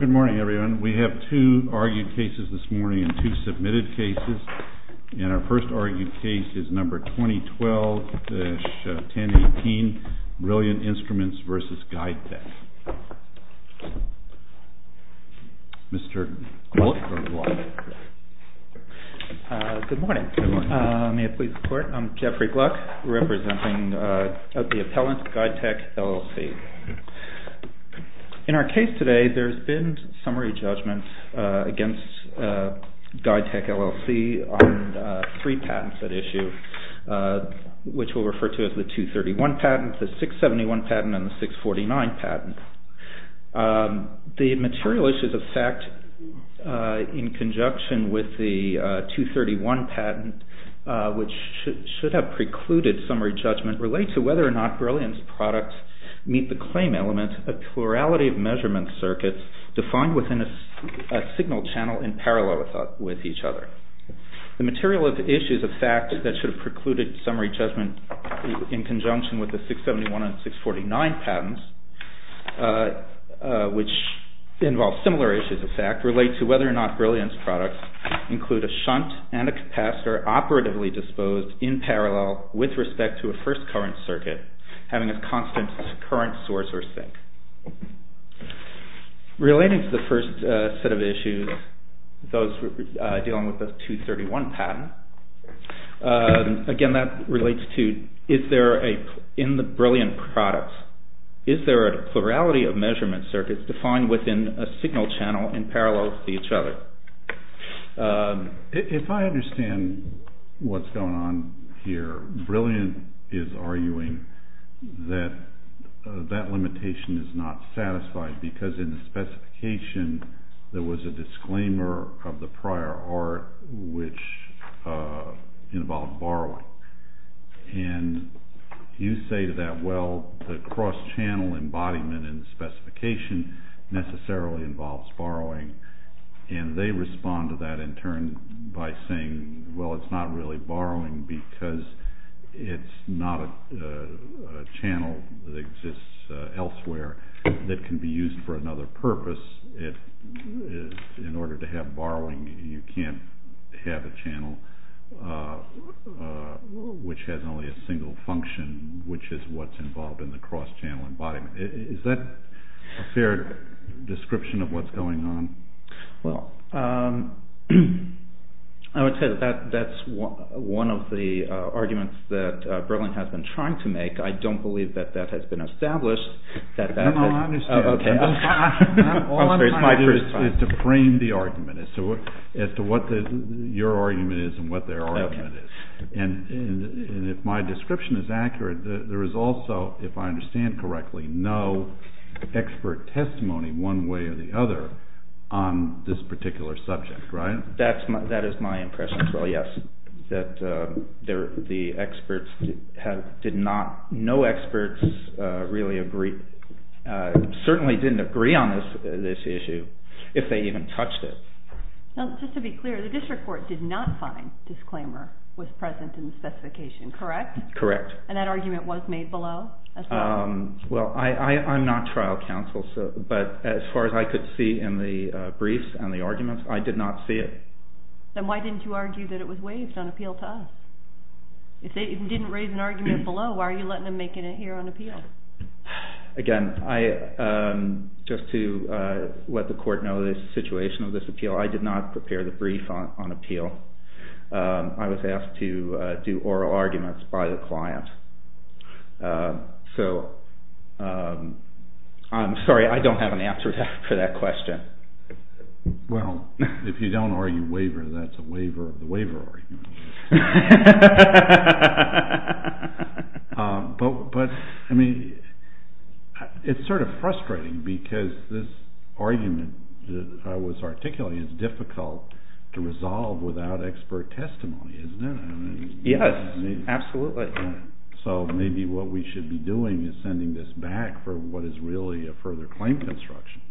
Good morning, everyone. We have two argued cases this morning and two submitted cases. And our first argued case is number 2012-1018, BRILLIANT INSTRUMENTS v. GUIDETECH. Mr. Gluck or Gluck? Good morning. May I please report? I'm Jeffrey Gluck, representing the appellant, GUIDETECH, LLC. In our case today, there's been summary judgment against GUIDETECH, LLC on three patents at issue, which we'll refer to as the 231 patent, the 671 patent, and the 649 patent. The material issues of fact in conjunction with the 231 patent, which should have precluded summary judgment, relate to whether or not BRILLIANT's products meet the claim element of plurality of measurement circuits defined within a signal channel in parallel with each other. The material issues of fact that should have precluded summary judgment in conjunction with the 671 and 649 patents, which involve similar issues of fact, relate to whether or not BRILLIANT's products include a shunt and a capacitor operatively disposed in parallel with respect to a first current circuit, having a constant current source or sink. Relating to the first set of issues, those dealing with the 231 patent, again, that relates to, in the BRILLIANT products, is there a plurality of measurement circuits defined within a signal channel in parallel with each other? If I understand what's going on here, BRILLIANT is arguing that that limitation is not satisfied, because in the specification there was a disclaimer of the prior art which involved borrowing. And you say to that, well, the cross-channel embodiment in the specification necessarily involves borrowing. And they respond to that in turn by saying, well, it's not really borrowing, because it's not a channel that exists elsewhere that can be used for another purpose. In order to have borrowing, you can't have a channel which has only a single function, which is what's involved in the cross-channel embodiment. Is that a fair description of what's going on? Well, I would say that that's one of the arguments that BRILLIANT has been trying to make. I don't believe that that has been established. No, no, I understand. All I'm trying to do is to frame the argument as to what your argument is and what their argument is. And if my description is accurate, there is also, if I understand correctly, no expert testimony one way or the other on this particular subject, right? That is my impression as well, yes, that the experts did not, no experts really agree, certainly didn't agree on this issue, if they even touched it. Now, just to be clear, the district court did not find disclaimer was present in the specification, correct? Correct. And that argument was made below as well? Well, I'm not trial counsel, but as far as I could see in the briefs and the arguments, I did not see it. Then why didn't you argue that it was waived on appeal to us? If they didn't raise an argument below, why are you letting them make it here on appeal? Again, just to let the court know the situation of this appeal, I did not prepare the brief on appeal. I was asked to do oral arguments by the client. So, I'm sorry, I don't have an answer for that question. Well, if you don't argue waiver, that's a waiver of the waiver argument. But, I mean, it's sort of frustrating because this argument I was articulating is difficult to resolve without expert testimony, isn't it? Yes, absolutely. So, maybe what we should be doing is sending this back for what is really a further claim construction.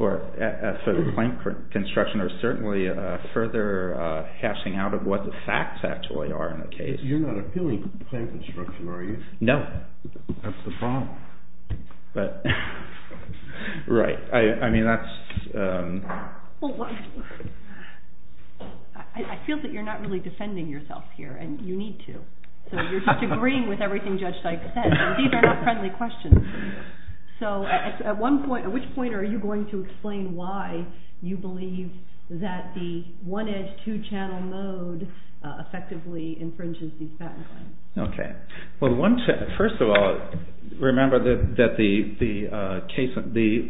A further claim construction or certainly a further hashing out of what the facts actually are in the case. You're not appealing claim construction, are you? No. That's the problem. Right. I mean, that's... Well, I feel that you're not really defending yourself here, and you need to. So, you're just agreeing with everything Judge Dyke said. These are not friendly questions. So, at which point are you going to explain why you believe that the one-edge, two-channel mode effectively infringes these patent claims? Okay. Well, first of all, remember that the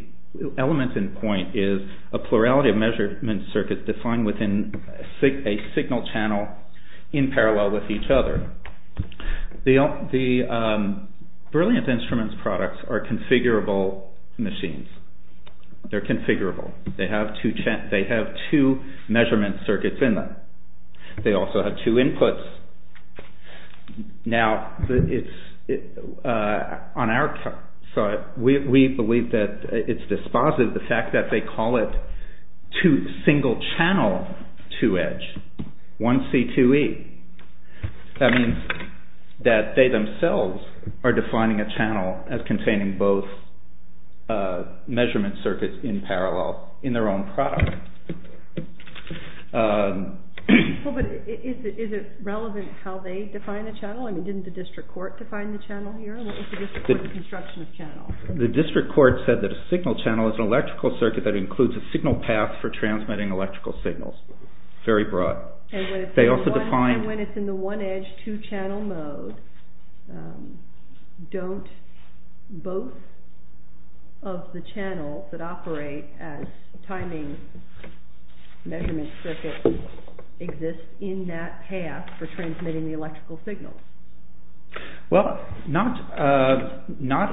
element in point is a plurality of measurement circuits defined within a signal channel in parallel with each other. The Brilliant Instruments products are configurable machines. They're configurable. They have two measurement circuits in them. They also have two inputs. Now, on our side, we believe that it's dispositive, the fact that they call it single-channel two-edge, 1C2E. That means that they themselves are defining a channel as containing both measurement circuits in parallel in their own product. Well, but is it relevant how they define a channel? I mean, didn't the district court define the channel here? What was the district court's construction of channel? The district court said that a signal channel is an electrical circuit that includes a signal path for transmitting electrical signals. Very broad. And when it's in the one-edge, two-channel mode, don't both of the channels that operate as timing measurement circuits exist in that path for transmitting the electrical signal? Well, not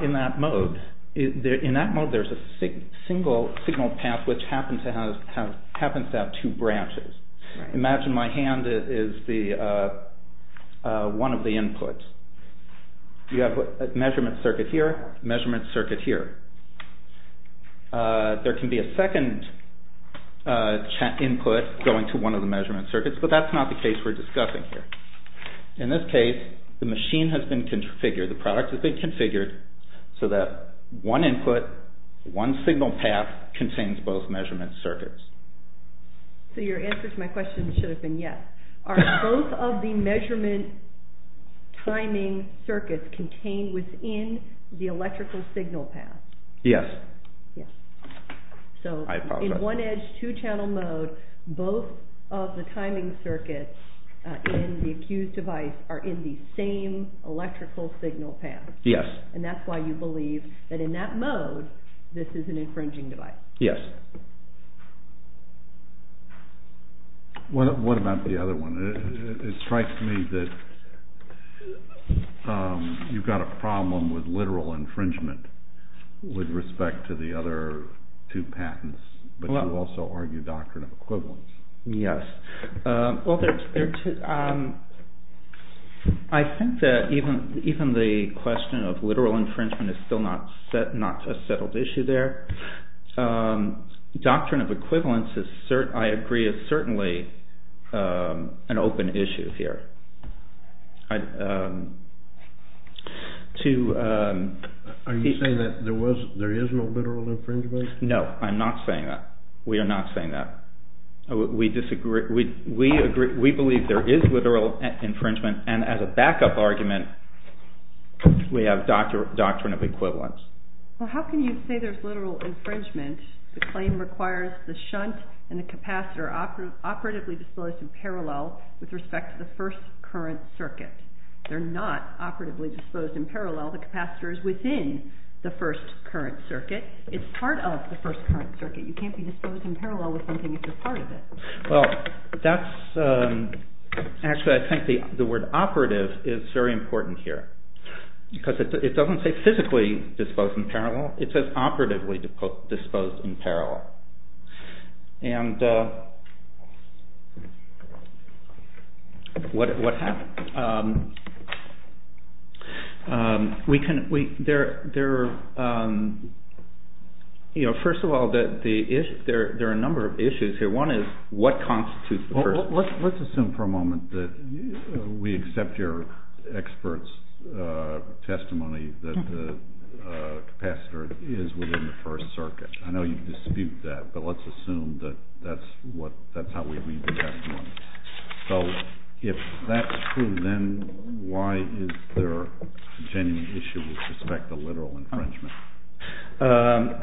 in that mode. In that mode, there's a single signal path which happens to have two branches. Imagine my hand is one of the inputs. You have a measurement circuit here, a measurement circuit here. There can be a second input going to one of the measurement circuits, but that's not the case we're discussing here. In this case, the machine has been configured, the product has been configured, so that one input, one signal path contains both measurement circuits. So your answer to my question should have been yes. Are both of the measurement timing circuits contained within the electrical signal path? Yes. So in one-edge, two-channel mode, both of the timing circuits in the accused device are in the same electrical signal path. Yes. And that's why you believe that in that mode, this is an infringing device. Yes. What about the other one? It strikes me that you've got a problem with literal infringement with respect to the other two patents, but you also argue doctrine of equivalence. Yes. Well, I think that even the question of literal infringement is still not a settled issue there. Doctrine of equivalence, I agree, is certainly an open issue here. Are you saying that there is no literal infringement? No, I'm not saying that. We are not saying that. We believe there is literal infringement, and as a backup argument, we have doctrine of equivalence. Well, how can you say there's literal infringement if the claim requires the shunt and the capacitor operatively disposed in parallel with respect to the first current circuit? They're not operatively disposed in parallel. The capacitor is within the first current circuit. It's part of the first current circuit. You can't be disposed in parallel with something if you're part of it. Well, that's actually I think the word operative is very important here because it doesn't say physically disposed in parallel. It says operatively disposed in parallel. And what happened? First of all, there are a number of issues here. One is what constitutes the first? Let's assume for a moment that we accept your expert's testimony that the capacitor is within the first circuit. I know you dispute that, but let's assume that that's how we read the testimony. So if that's true, then why is there a genuine issue with respect to literal infringement?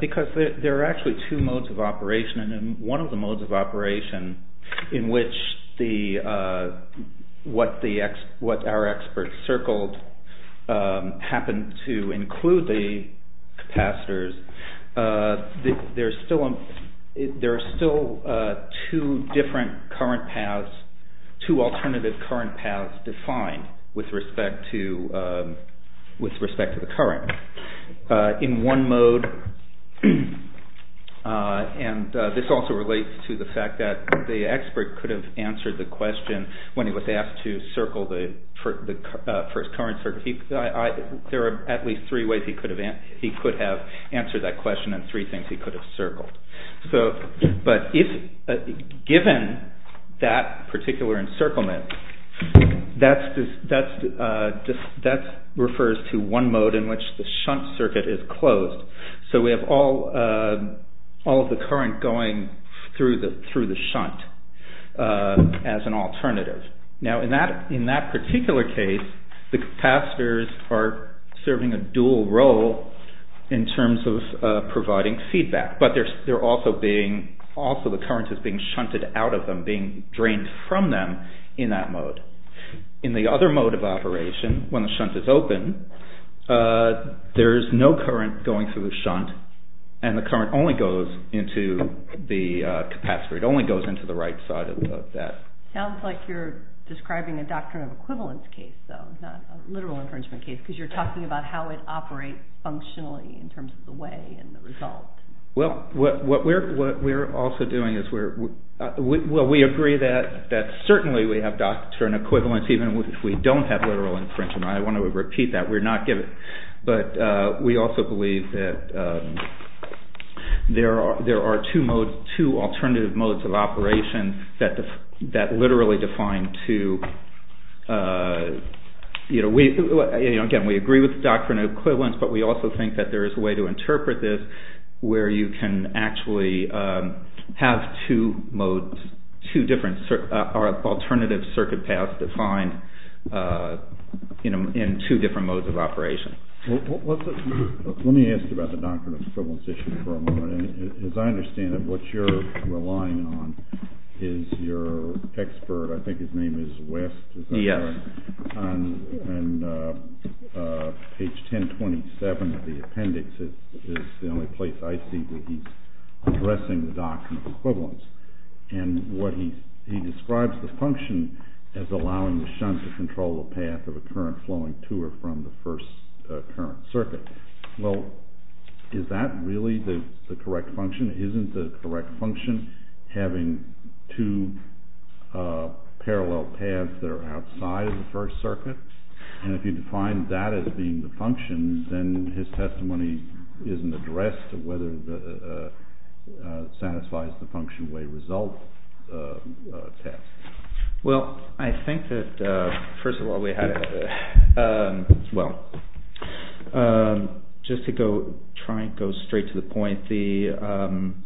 Because there are actually two modes of operation. And in one of the modes of operation in which what our experts circled happened to include the capacitors. There are still two different current paths, two alternative current paths defined with respect to the current. In one mode. And this also relates to the fact that the expert could have answered the question when he was asked to circle the first current circuit. There are at least three ways he could have answered that question and three things he could have circled. But given that particular encirclement, that refers to one mode in which the shunt circuit is closed. So we have all of the current going through the shunt as an alternative. Now in that particular case, the capacitors are serving a dual role in terms of providing feedback. But also the current is being shunted out of them, being drained from them in that mode. In the other mode of operation, when the shunt is open, there is no current going through the shunt. And the current only goes into the capacitor, it only goes into the right side of that. Sounds like you're describing a doctrine of equivalence case though, not a literal infringement case. Because you're talking about how it operates functionally in terms of the way and the result. Well, what we're also doing is we agree that certainly we have doctrine of equivalence even if we don't have literal infringement. I want to repeat that. But we also believe that there are two modes, two alternative modes of operation that literally define two. Again, we agree with the doctrine of equivalence, but we also think that there is a way to interpret this where you can actually have two modes, two different alternative circuit paths defined in two different modes of operation. Let me ask about the doctrine of equivalence issue for a moment. As I understand it, what you're relying on is your expert, I think his name is West, and page 1027 of the appendix is the only place I see that he's addressing the doctrine of equivalence. And what he describes the function as allowing the shunt to control the path of a current flowing to or from the first current circuit. Well, is that really the correct function? Isn't the correct function having two parallel paths that are outside of the first circuit? And if you define that as being the function, then his testimony isn't addressed whether it satisfies the function way result test. Well, I think that first of all, we had, well, just to go try and go straight to the point, there are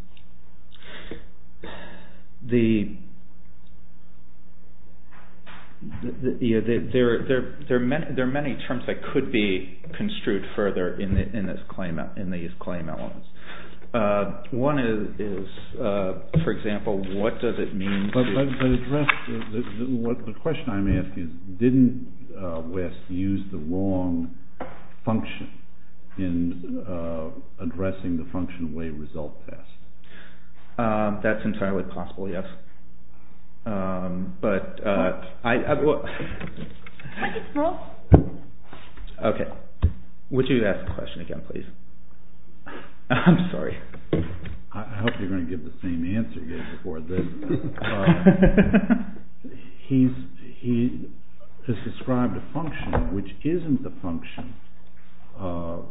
many terms that could be construed further in this claim, in these claim elements. One is, for example, what does it mean to... But the question I'm asking is, didn't West use the wrong function in addressing the function way result test? That's entirely possible, yes. But I... Okay, would you ask the question again, please? I'm sorry. I hope you're going to give the same answer you gave before. He has described a function which isn't the function of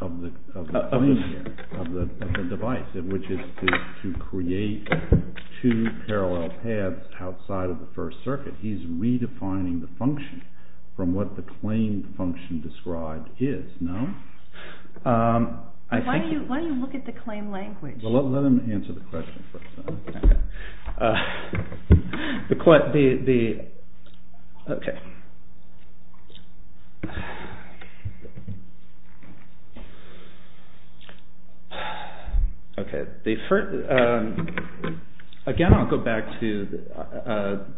the device, which is to create two parallel paths outside of the first circuit. He's redefining the function from what the claim function described is, no? Why don't you look at the claim language? Well, let him answer the question first. The... Okay. Okay, the first...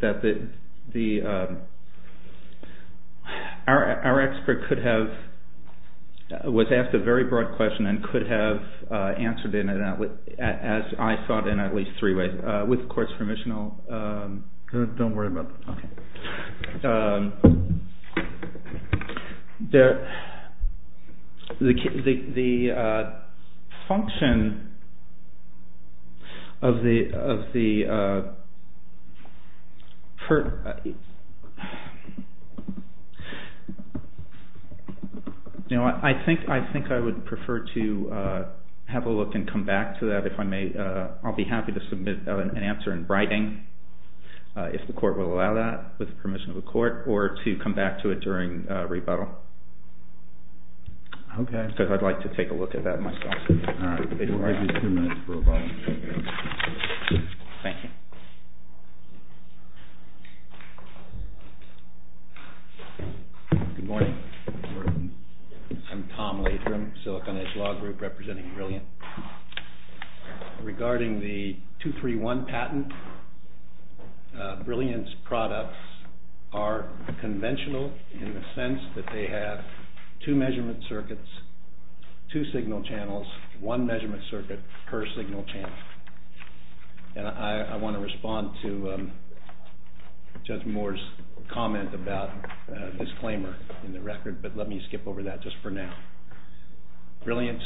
That the... Our expert could have... was asked a very broad question and could have answered it as I thought in at least three ways. With, of course, permission, I'll... Don't worry about that. Okay. The function of the... I think I would prefer to have a look and come back to that if I may. I'll be happy to submit an answer in writing, if the court will allow that, with permission of the court, or to come back to it during rebuttal. Okay. Because I'd like to take a look at that myself. All right. Thank you. Good morning. Good morning. I'm Tom Latrum, Silicon Edge Law Group, representing Brilliant. Regarding the 231 patent, Brilliant's products are conventional in the sense that they have two measurement circuits, two signal channels, one measurement circuit per signal channel. And I want to respond to Judge Moore's comment about disclaimer in the record, but let me skip over that just for now. Brilliant's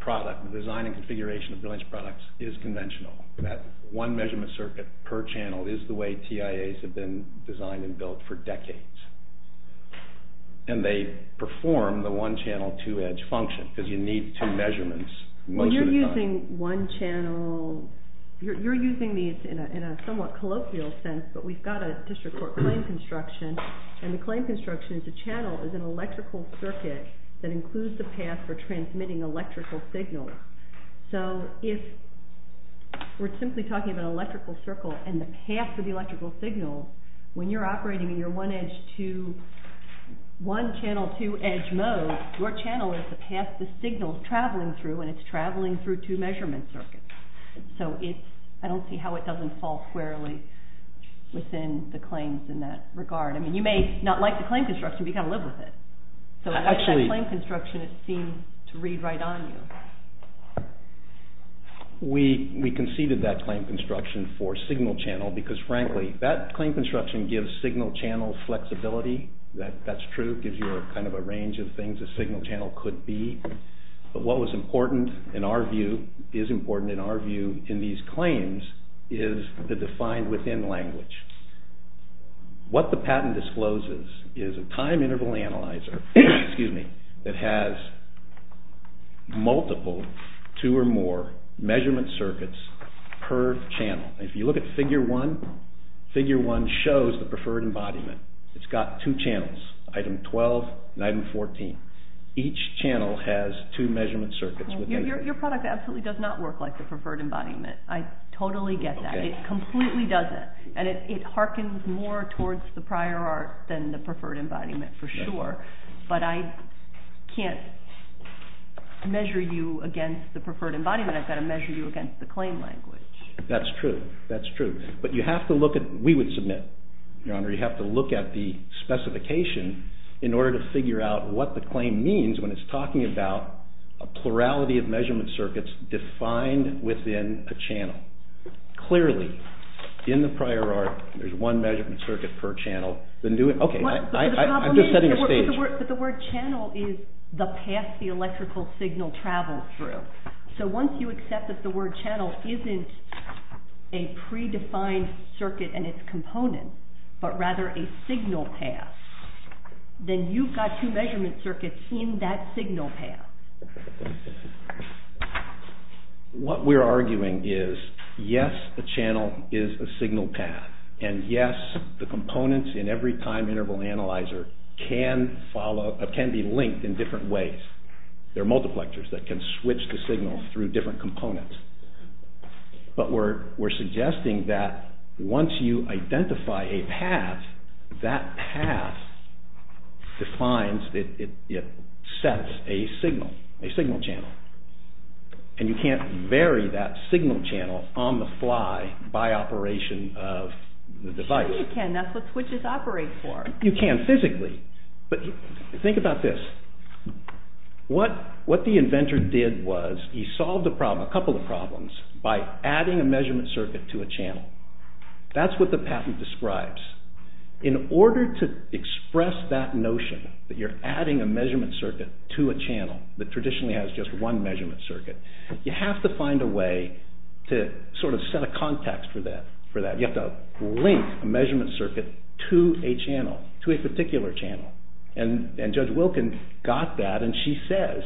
product, the design and configuration of Brilliant's products is conventional. That one measurement circuit per channel is the way TIAs have been designed and built for decades. And they perform the one-channel, two-edge function because you need two measurements most of the time. Well, you're using one channel... You're using these in a somewhat colloquial sense, but we've got a district court claim construction, and the claim construction is a channel is an electrical circuit that includes the path for transmitting electrical signals. So if we're simply talking about an electrical circle and the path for the electrical signal, when you're operating in your one-channel, two-edge mode, your channel is the path the signal is traveling through, and it's traveling through two measurement circuits. So I don't see how it doesn't fall squarely within the claims in that regard. I mean, you may not like the claim construction, but you've got to live with it. So how does that claim construction seem to read right on you? We conceded that claim construction for signal channel because, frankly, that claim construction gives signal channel flexibility. That's true. It gives you kind of a range of things a signal channel could be. But what was important in our view, is important in our view in these claims, is the defined within language. What the patent discloses is a time interval analyzer that has multiple two or more measurement circuits per channel. If you look at figure one, figure one shows the preferred embodiment. It's got two channels, item 12 and item 14. Each channel has two measurement circuits. Your product absolutely does not work like the preferred embodiment. I totally get that. It completely doesn't. And it harkens more towards the prior art than the preferred embodiment for sure. But I can't measure you against the preferred embodiment. I've got to measure you against the claim language. That's true. That's true. But you have to look at, we would submit, Your Honor, you have to look at the specification in order to figure out what the claim means when it's talking about a plurality of measurement circuits defined within a channel. Clearly, in the prior art, there's one measurement circuit per channel. Okay, I'm just setting the stage. But the word channel is the path the electrical signal travels through. So once you accept that the word channel isn't a predefined circuit and its component, but rather a signal path, then you've got two measurement circuits in that signal path. What we're arguing is, yes, the channel is a signal path. And yes, the components in every time interval analyzer can be linked in different ways. There are multiplexers that can switch the signal through different components. But we're suggesting that once you identify a path, that path defines, it sets a signal, a signal channel. And you can't vary that signal channel on the fly by operation of the device. Sure you can. That's what switches operate for. You can physically. But think about this. What the inventor did was he solved a problem, a couple of problems, by adding a measurement circuit to a channel. That's what the patent describes. In order to express that notion, that you're adding a measurement circuit to a channel that traditionally has just one measurement circuit, you have to find a way to sort of set a context for that. You have to link a measurement circuit to a channel, to a particular channel. And Judge Wilkin got that, and she says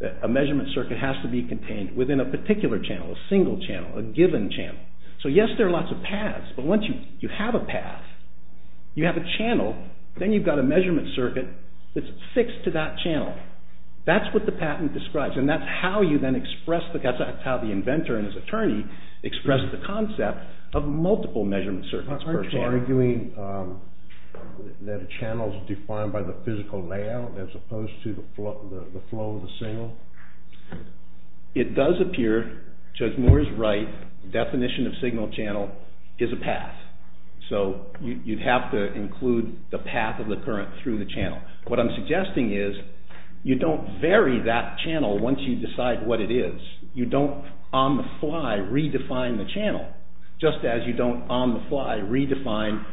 that a measurement circuit has to be contained within a particular channel, a single channel, a given channel. So yes, there are lots of paths, but once you have a path, you have a channel, then you've got a measurement circuit that's fixed to that channel. That's what the patent describes. And that's how the inventor and his attorney expressed the concept of multiple measurement circuits per channel. Aren't you arguing that a channel is defined by the physical layout as opposed to the flow of the signal? It does appear, Judge Moore is right, the definition of signal channel is a path. So you'd have to include the path of the current through the channel. What I'm suggesting is you don't vary that channel once you decide what it is. You don't on the fly redefine the channel, just as you don't on the fly redefine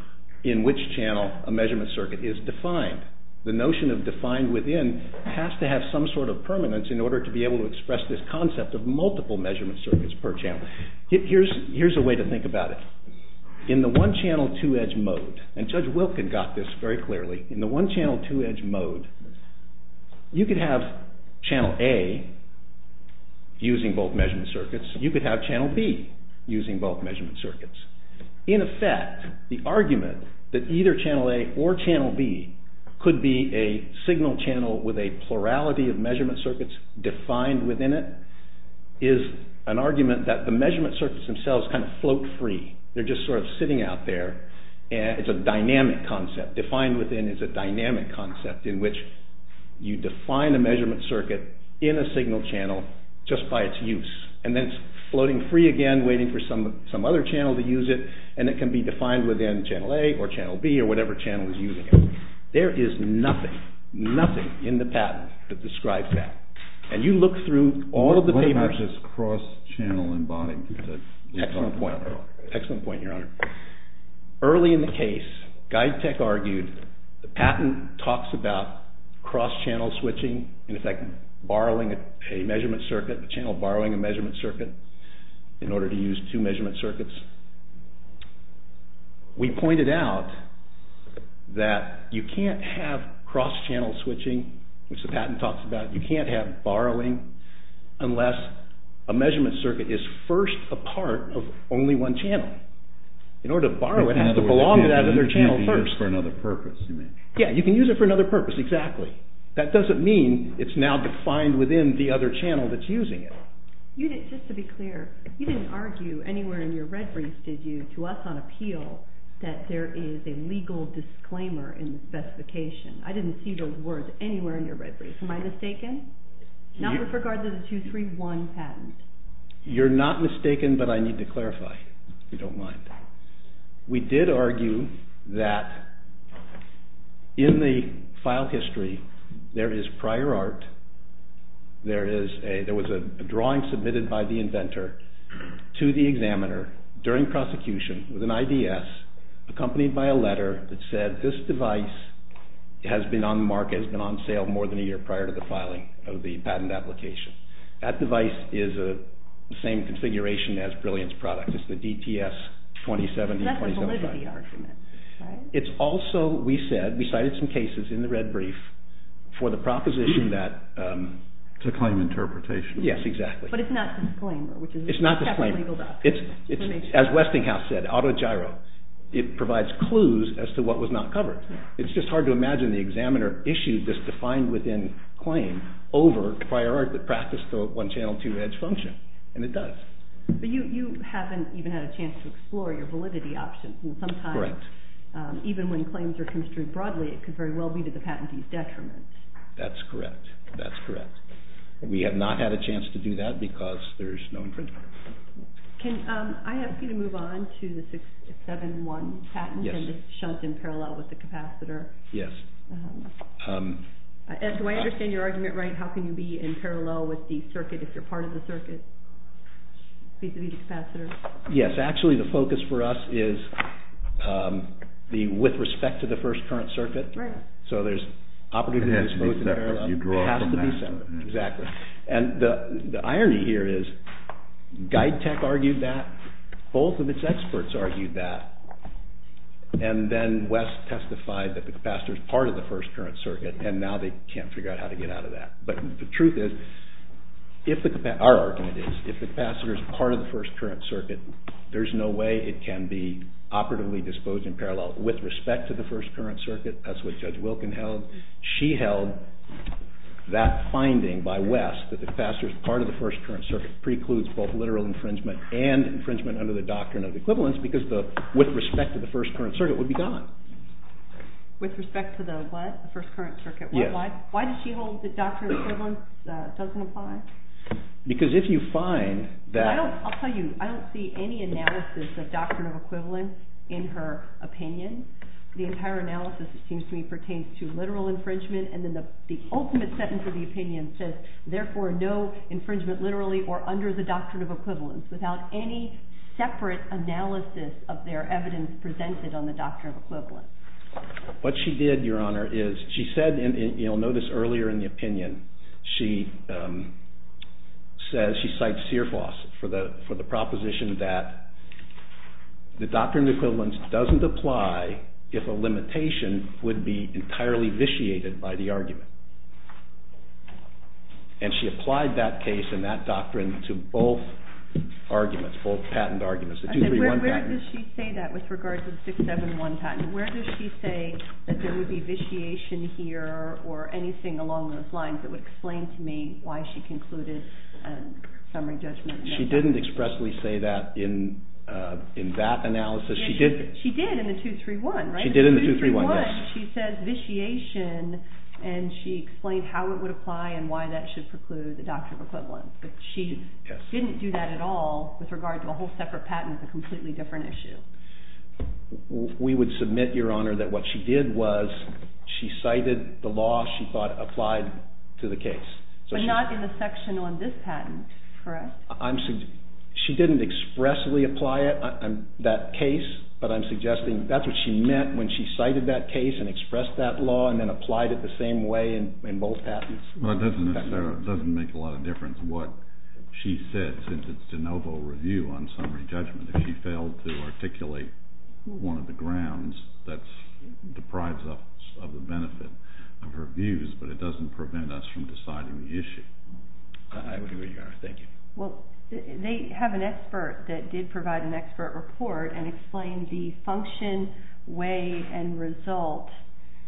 in which channel a measurement circuit is defined. The notion of defined within has to have some sort of permanence in order to be able to express this concept of multiple measurement circuits per channel. Here's a way to think about it. In the one-channel two-edge mode, and Judge Wilkin got this very clearly, in the one-channel two-edge mode, you could have channel A using both measurement circuits, you could have channel B using both measurement circuits. In effect, the argument that either channel A or channel B could be a signal channel with a plurality of measurement circuits defined within it is an argument that the measurement circuits themselves kind of float free. They're just sort of sitting out there. It's a dynamic concept. Defined within is a dynamic concept in which you define a measurement circuit in a signal channel just by its use, and then it's floating free again, waiting for some other channel to use it, and it can be defined within channel A or channel B or whatever channel is using it. There is nothing, nothing in the patent that describes that. And you look through all of the papers... What about just cross-channel embodiment? Excellent point. Excellent point, Your Honor. Early in the case, GuideTech argued the patent talks about cross-channel switching, in effect, borrowing a measurement circuit, a channel borrowing a measurement circuit, in order to use two measurement circuits. We pointed out that you can't have cross-channel switching, which the patent talks about. You can't have borrowing unless a measurement circuit is first a part of only one channel. In order to borrow it, it has to belong to that other channel first. In other words, you can use it for another purpose. Yeah, you can use it for another purpose, exactly. That doesn't mean it's now defined within the other channel that's using it. Just to be clear, you didn't argue anywhere in your red brief, did you, to us on appeal, that there is a legal disclaimer in the specification. I didn't see those words anywhere in your red brief. Am I mistaken? Not with regard to the 231 patent. You're not mistaken, but I need to clarify, if you don't mind. We did argue that in the file history, there is prior art. There was a drawing submitted by the inventor to the examiner during prosecution with an IDS, accompanied by a letter that said, this device has been on the market, has been on sale more than a year prior to the filing of the patent application. That device is the same configuration as Brilliant's product. It's the DTS 2070, 2075. That's the validity argument, right? It's also, we said, we cited some cases in the red brief for the proposition that... To claim interpretation. Yes, exactly. It's not to claim. As Westinghouse said, auto gyro. It provides clues as to what was not covered. It's just hard to imagine the examiner issued this defined within claim over prior art that practiced the one channel two edge function, and it does. But you haven't even had a chance to explore your validity options. Correct. Even when claims are construed broadly, it could very well be to the patentee's detriment. That's correct, that's correct. We have not had a chance to do that because there's no infringement. Can I ask you to move on to the 671 patent and the shunt in parallel with the capacitor? Yes. Do I understand your argument right? How can you be in parallel with the circuit, if you're part of the circuit, vis-a-vis the capacitor? Yes, actually the focus for us is with respect to the first current circuit. So there's opportunities both in parallel. It has to be separate, exactly. And the irony here is GuideTech argued that, both of its experts argued that, and then West testified that the capacitor is part of the first current circuit, and now they can't figure out how to get out of that. But the truth is, our argument is, if the capacitor is part of the first current circuit, there's no way it can be operatively disposed in parallel with respect to the first current circuit. That's what Judge Wilkin held. She held that finding by West, that the capacitor is part of the first current circuit, precludes both literal infringement and infringement under the doctrine of equivalence, because with respect to the first current circuit, it would be gone. With respect to the what? The first current circuit? Yes. Why does she hold that doctrine of equivalence doesn't apply? Because if you find that... I'll tell you, I don't see any analysis of doctrine of equivalence in her opinion. The entire analysis, it seems to me, pertains to literal infringement, and then the ultimate sentence of the opinion says, therefore no infringement literally or under the doctrine of equivalence, without any separate analysis of their evidence presented on the doctrine of equivalence. What she did, Your Honor, is she said, and you'll notice earlier in the opinion, she says, she cites Searfoss for the proposition that the doctrine of equivalence doesn't apply if a limitation would be entirely vitiated by the argument. And she applied that case and that doctrine to both arguments, both patent arguments. Where does she say that with regard to the 671 patent? Where does she say that there would be vitiation here or anything along those lines that would explain to me why she concluded a summary judgment? She didn't expressly say that in that analysis. She did in the 231, right? She did in the 231, yes. In the 231, she says vitiation, and she explained how it would apply and why that should preclude the doctrine of equivalence. But she didn't do that at all with regard to a whole separate patent. It's a completely different issue. We would submit, Your Honor, that what she did was she cited the law she thought applied to the case. But not in the section on this patent, correct? She didn't expressly apply that case, but I'm suggesting that's what she meant when she cited that case and expressed that law and then applied it the same way in both patents. Well, it doesn't necessarily make a lot of difference what she said in the de novo review on summary judgment. If she failed to articulate one of the grounds, that deprives us of the benefit of her views, but it doesn't prevent us from deciding the issue. I agree with you, Your Honor. Thank you. Well, they have an expert that did provide an expert report and explained the function, way, and result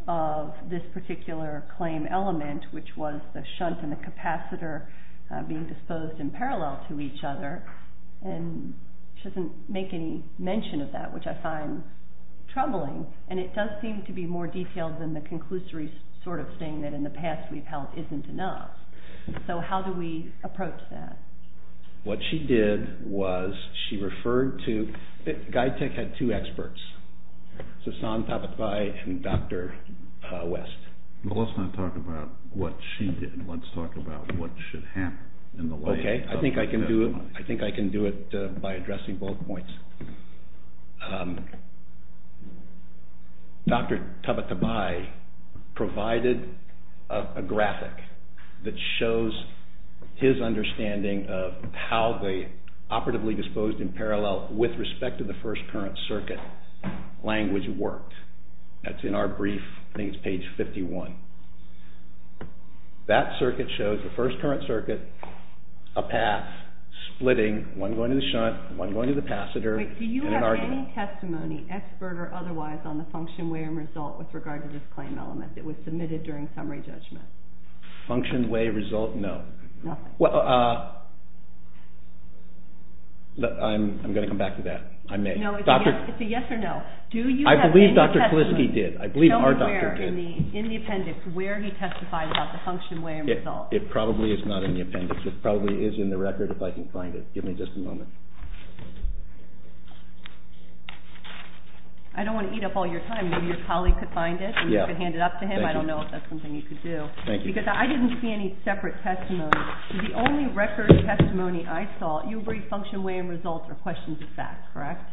of this particular claim element, which was the shunt and the capacitor being disposed in parallel to each other. And she doesn't make any mention of that, which I find troubling. And it does seem to be more detailed than the conclusory sort of thing that in the past we've held isn't enough. So how do we approach that? What she did was she referred to... Guytech had two experts, Sassan Tabatabai and Dr. West. Well, let's not talk about what she did. Let's talk about what should happen in the light of the testimony. Okay. I think I can do it by addressing both points. Dr. Tabatabai provided a graphic that shows his understanding of how the operatively disposed in parallel with respect to the first current circuit language worked. That's in our brief. I think it's page 51. That circuit shows the first current circuit, a path splitting, one going to the shunt, one going to the capacitor, and an argument. Wait. Do you have any testimony, expert or otherwise, on the function, way, and result with regard to this claim element that was submitted during summary judgment? Function, way, result? No. Nothing. Well, I'm going to come back to that. I may. No, it's a yes or no. I believe Dr. Kuliski did. I believe our doctor did. Tell me where in the appendix where he testified about the function, way, and result. It probably is not in the appendix. It probably is in the record if I can find it. Give me just a moment. I don't want to eat up all your time. Maybe your colleague could find it and you could hand it up to him. I don't know if that's something you could do. Thank you. Because I didn't see any separate testimony. The only record testimony I saw, you agree function, way, and result are questions of fact, correct?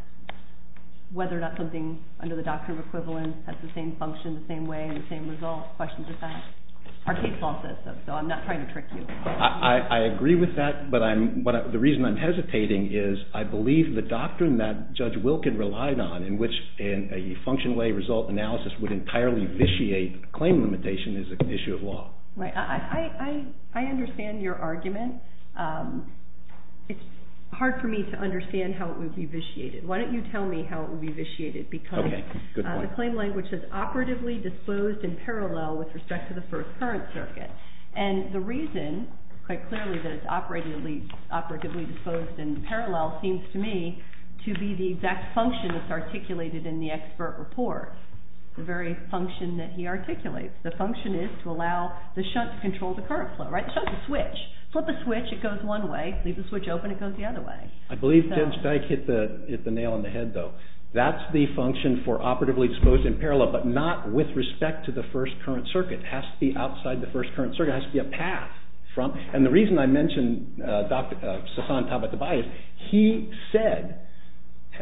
Whether or not something under the doctrine of equivalence has the same function, the same way, and the same result are questions of fact. Our case law says so, so I'm not trying to trick you. I agree with that, but the reason I'm hesitating is I believe the doctrine that Judge Wilkin relied on in which a function, way, result analysis would entirely vitiate claim limitation is an issue of law. I understand your argument. It's hard for me to understand how it would be vitiated. Why don't you tell me how it would be vitiated because the claim language is operatively disposed in parallel with respect to the first current circuit. And the reason, quite clearly, that it's operatively disposed in parallel seems to me to be the exact function that's articulated in the expert report, the very function that he articulates. The function is to allow the shunt to control the current flow, right? The shunt's a switch. Flip a switch, it goes one way. Leave the switch open, it goes the other way. I believe Judge Dyke hit the nail on the head, though. That's the function for operatively disposed in parallel, but not with respect to the first current circuit. It has to be outside the first current circuit. It has to be a path. And the reason I mentioned Sasan Tabatabai is he said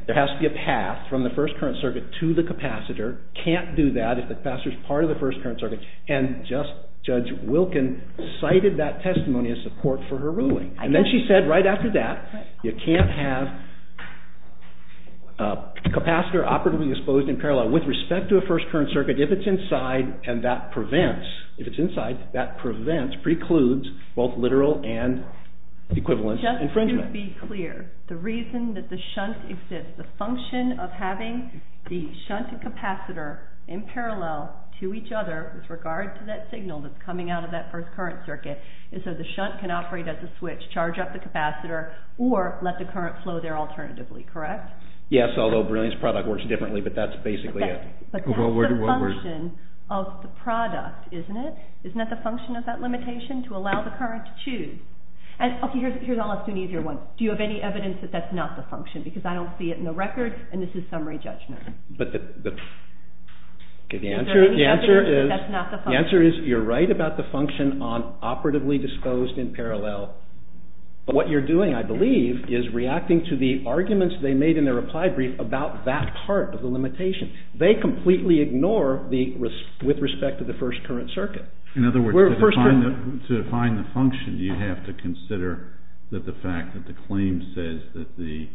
there has to be a path from the first current circuit to the capacitor, can't do that if the capacitor's part of the first current circuit, and Judge Wilkin cited that testimony as support for her ruling. And then she said right after that, you can't have a capacitor operatively disposed in parallel with respect to a first current circuit if it's inside, and that prevents, if it's inside, that prevents, precludes, both literal and equivalent infringement. Just to be clear, the reason that the shunt exists, the function of having the shunt and capacitor in parallel to each other with regard to that signal that's coming out of that first current circuit is so the shunt can operate as a switch, charge up the capacitor, or let the current flow there alternatively, correct? Yes, although Brilliant's product works differently, but that's basically it. But that's the function of the product, isn't it? Isn't that the function of that limitation, to allow the current to choose? Okay, here's an easier one. Do you have any evidence that that's not the function? Because I don't see it in the record, and this is summary judgment. Okay, the answer is you're right about the function on operatively disposed in parallel, but what you're doing, I believe, is reacting to the arguments they made in their reply brief about that part of the limitation. They completely ignore the, with respect to the first current circuit. In other words, to define the function, you have to consider that the fact that the claim says that the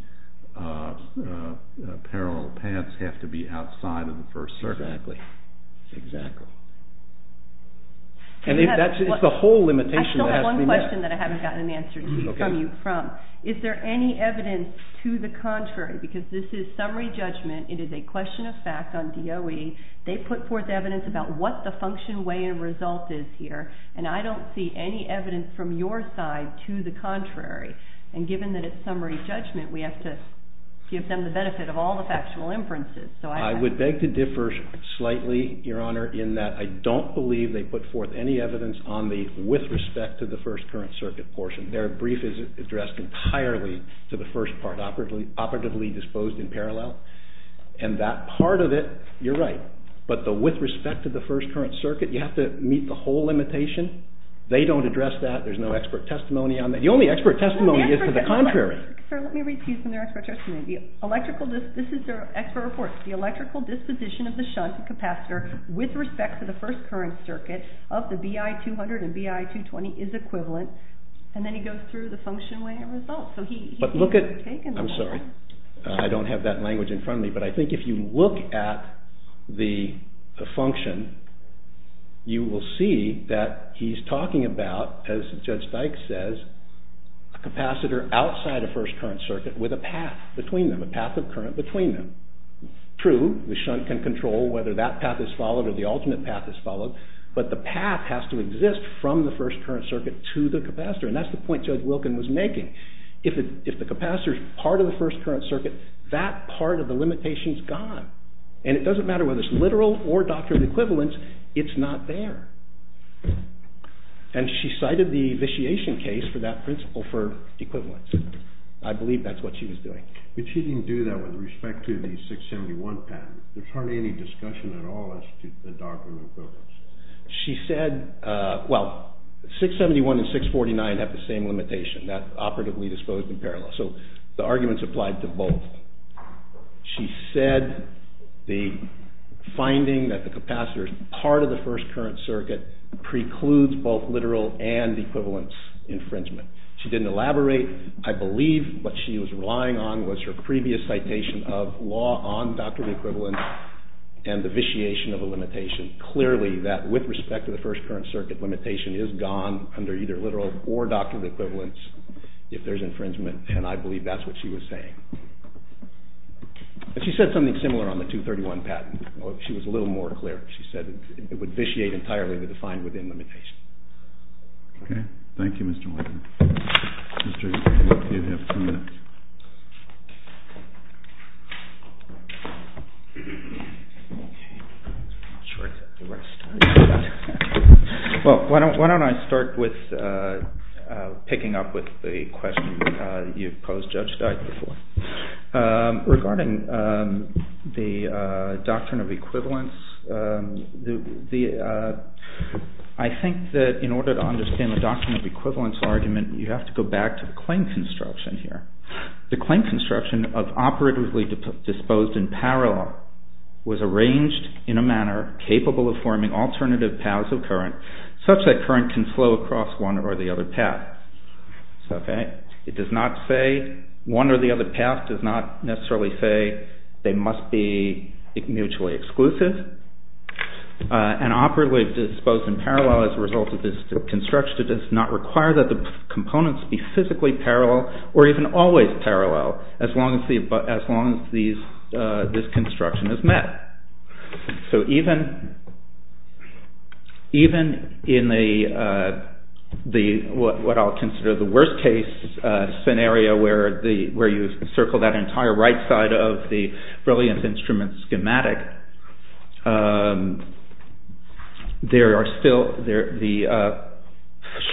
parallel paths have to be outside of the first circuit. Exactly. And that's the whole limitation that has to be met. I still have one question that I haven't gotten an answer from you from. Is there any evidence to the contrary, because this is summary judgment, it is a question of fact on DOE. They put forth evidence about what the function, way, and result is here, and I don't see any evidence from your side to the contrary. And given that it's summary judgment, we have to give them the benefit of all the factual inferences. I would beg to differ slightly, Your Honor, in that I don't believe they put forth any evidence on the with respect to the first current circuit portion. Their brief is addressed entirely to the first part, operatively disposed in parallel, and that part of it, you're right, but the with respect to the first current circuit, you have to meet the whole limitation. They don't address that. There's no expert testimony on that. The only expert testimony is to the contrary. Let me read to you some of their expert testimony. This is their expert report. The electrical disposition of the shunt capacitor with respect to the first current circuit of the BI-200 and BI-220 is equivalent. And then he goes through the function, way, and result. I'm sorry. I don't have that language in front of me, but I think if you look at the function, you will see that he's talking about, as Judge Dykes says, a capacitor outside a first current circuit with a path between them, a path of current between them. True, the shunt can control whether that path is followed or the alternate path is followed, but the path has to exist from the first current circuit to the capacitor, and that's the point Judge Wilkin was making. If the capacitor is part of the first current circuit, that part of the limitation is gone, and it doesn't matter whether it's literal or doctrinal equivalence, it's not there. And she cited the vitiation case for that principle for equivalence. I believe that's what she was doing. But she didn't do that with respect to the 671 patent. There's hardly any discussion at all as to the doctrinal equivalence. She said, well, 671 and 649 have the same limitation, that operatively disposed in parallel, so the argument's applied to both. She said the finding that the capacitor is part of the first current circuit precludes both literal and equivalence infringement. She didn't elaborate. I believe what she was relying on was her previous citation of law on doctrinal equivalence and the vitiation of a limitation. Clearly, that with respect to the first current circuit, limitation is gone under either literal or doctrinal equivalence if there's infringement, and I believe that's what she was saying. She said something similar on the 231 patent. She was a little more clear. She said it would vitiate entirely the defined within limitation. Okay. Thank you, Mr. Walker. Mr. O'Neill, you have ten minutes. Well, why don't I start with picking up with the question you posed, Judge Dyke, regarding the doctrine of equivalence. I think that in order to understand the doctrine of equivalence argument, you have to go back to the claim construction here. The claim construction of operatively disposed in parallel was arranged in a manner capable of forming alternative paths of current such that current can flow across one or the other path. It does not say one or the other path does not necessarily say they must be mutually exclusive. And operatively disposed in parallel as a result of this construction does not require that the components be physically parallel or even always parallel as long as this construction is met. So even in what I'll consider the worst case scenario where you circle that entire right side of the brilliant instrument schematic, there are still the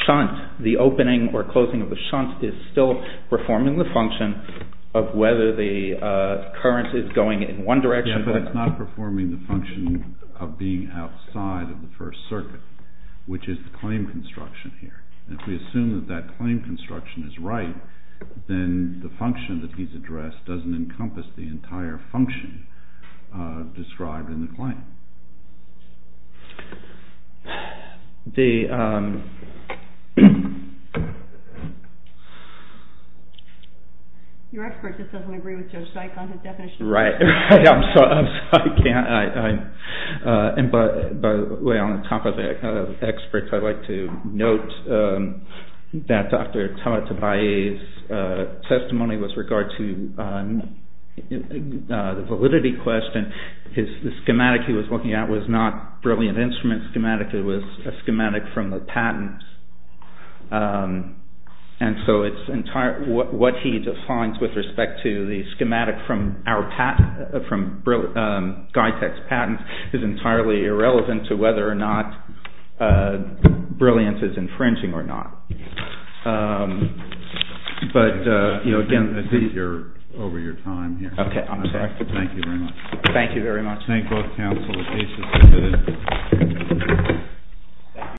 shunt, the opening or closing of the shunt is still performing the function of whether the current is going in one direction. Yeah, but it's not performing the function of being outside of the first circuit, which is the claim construction here. If we assume that that claim construction is right, then the function that he's addressed doesn't encompass the entire function described in the claim. Your expert just doesn't agree with Joe Sike on his definition. Right, I'm sorry, I can't. And by the way, on top of that, experts, I'd like to note that Dr. Thomas Tobias' testimony with regard to the validity question, the schematic he was looking at was not brilliant instrument schematic, it was a schematic from the patents. And so what he defines with respect to the schematic from Guytech's patents is entirely irrelevant to whether or not brilliance is infringing or not. But, you know, again... I think you're over your time here. Okay, I'm sorry. Thank you very much. Thank you very much. Thank both counsel. The case is submitted.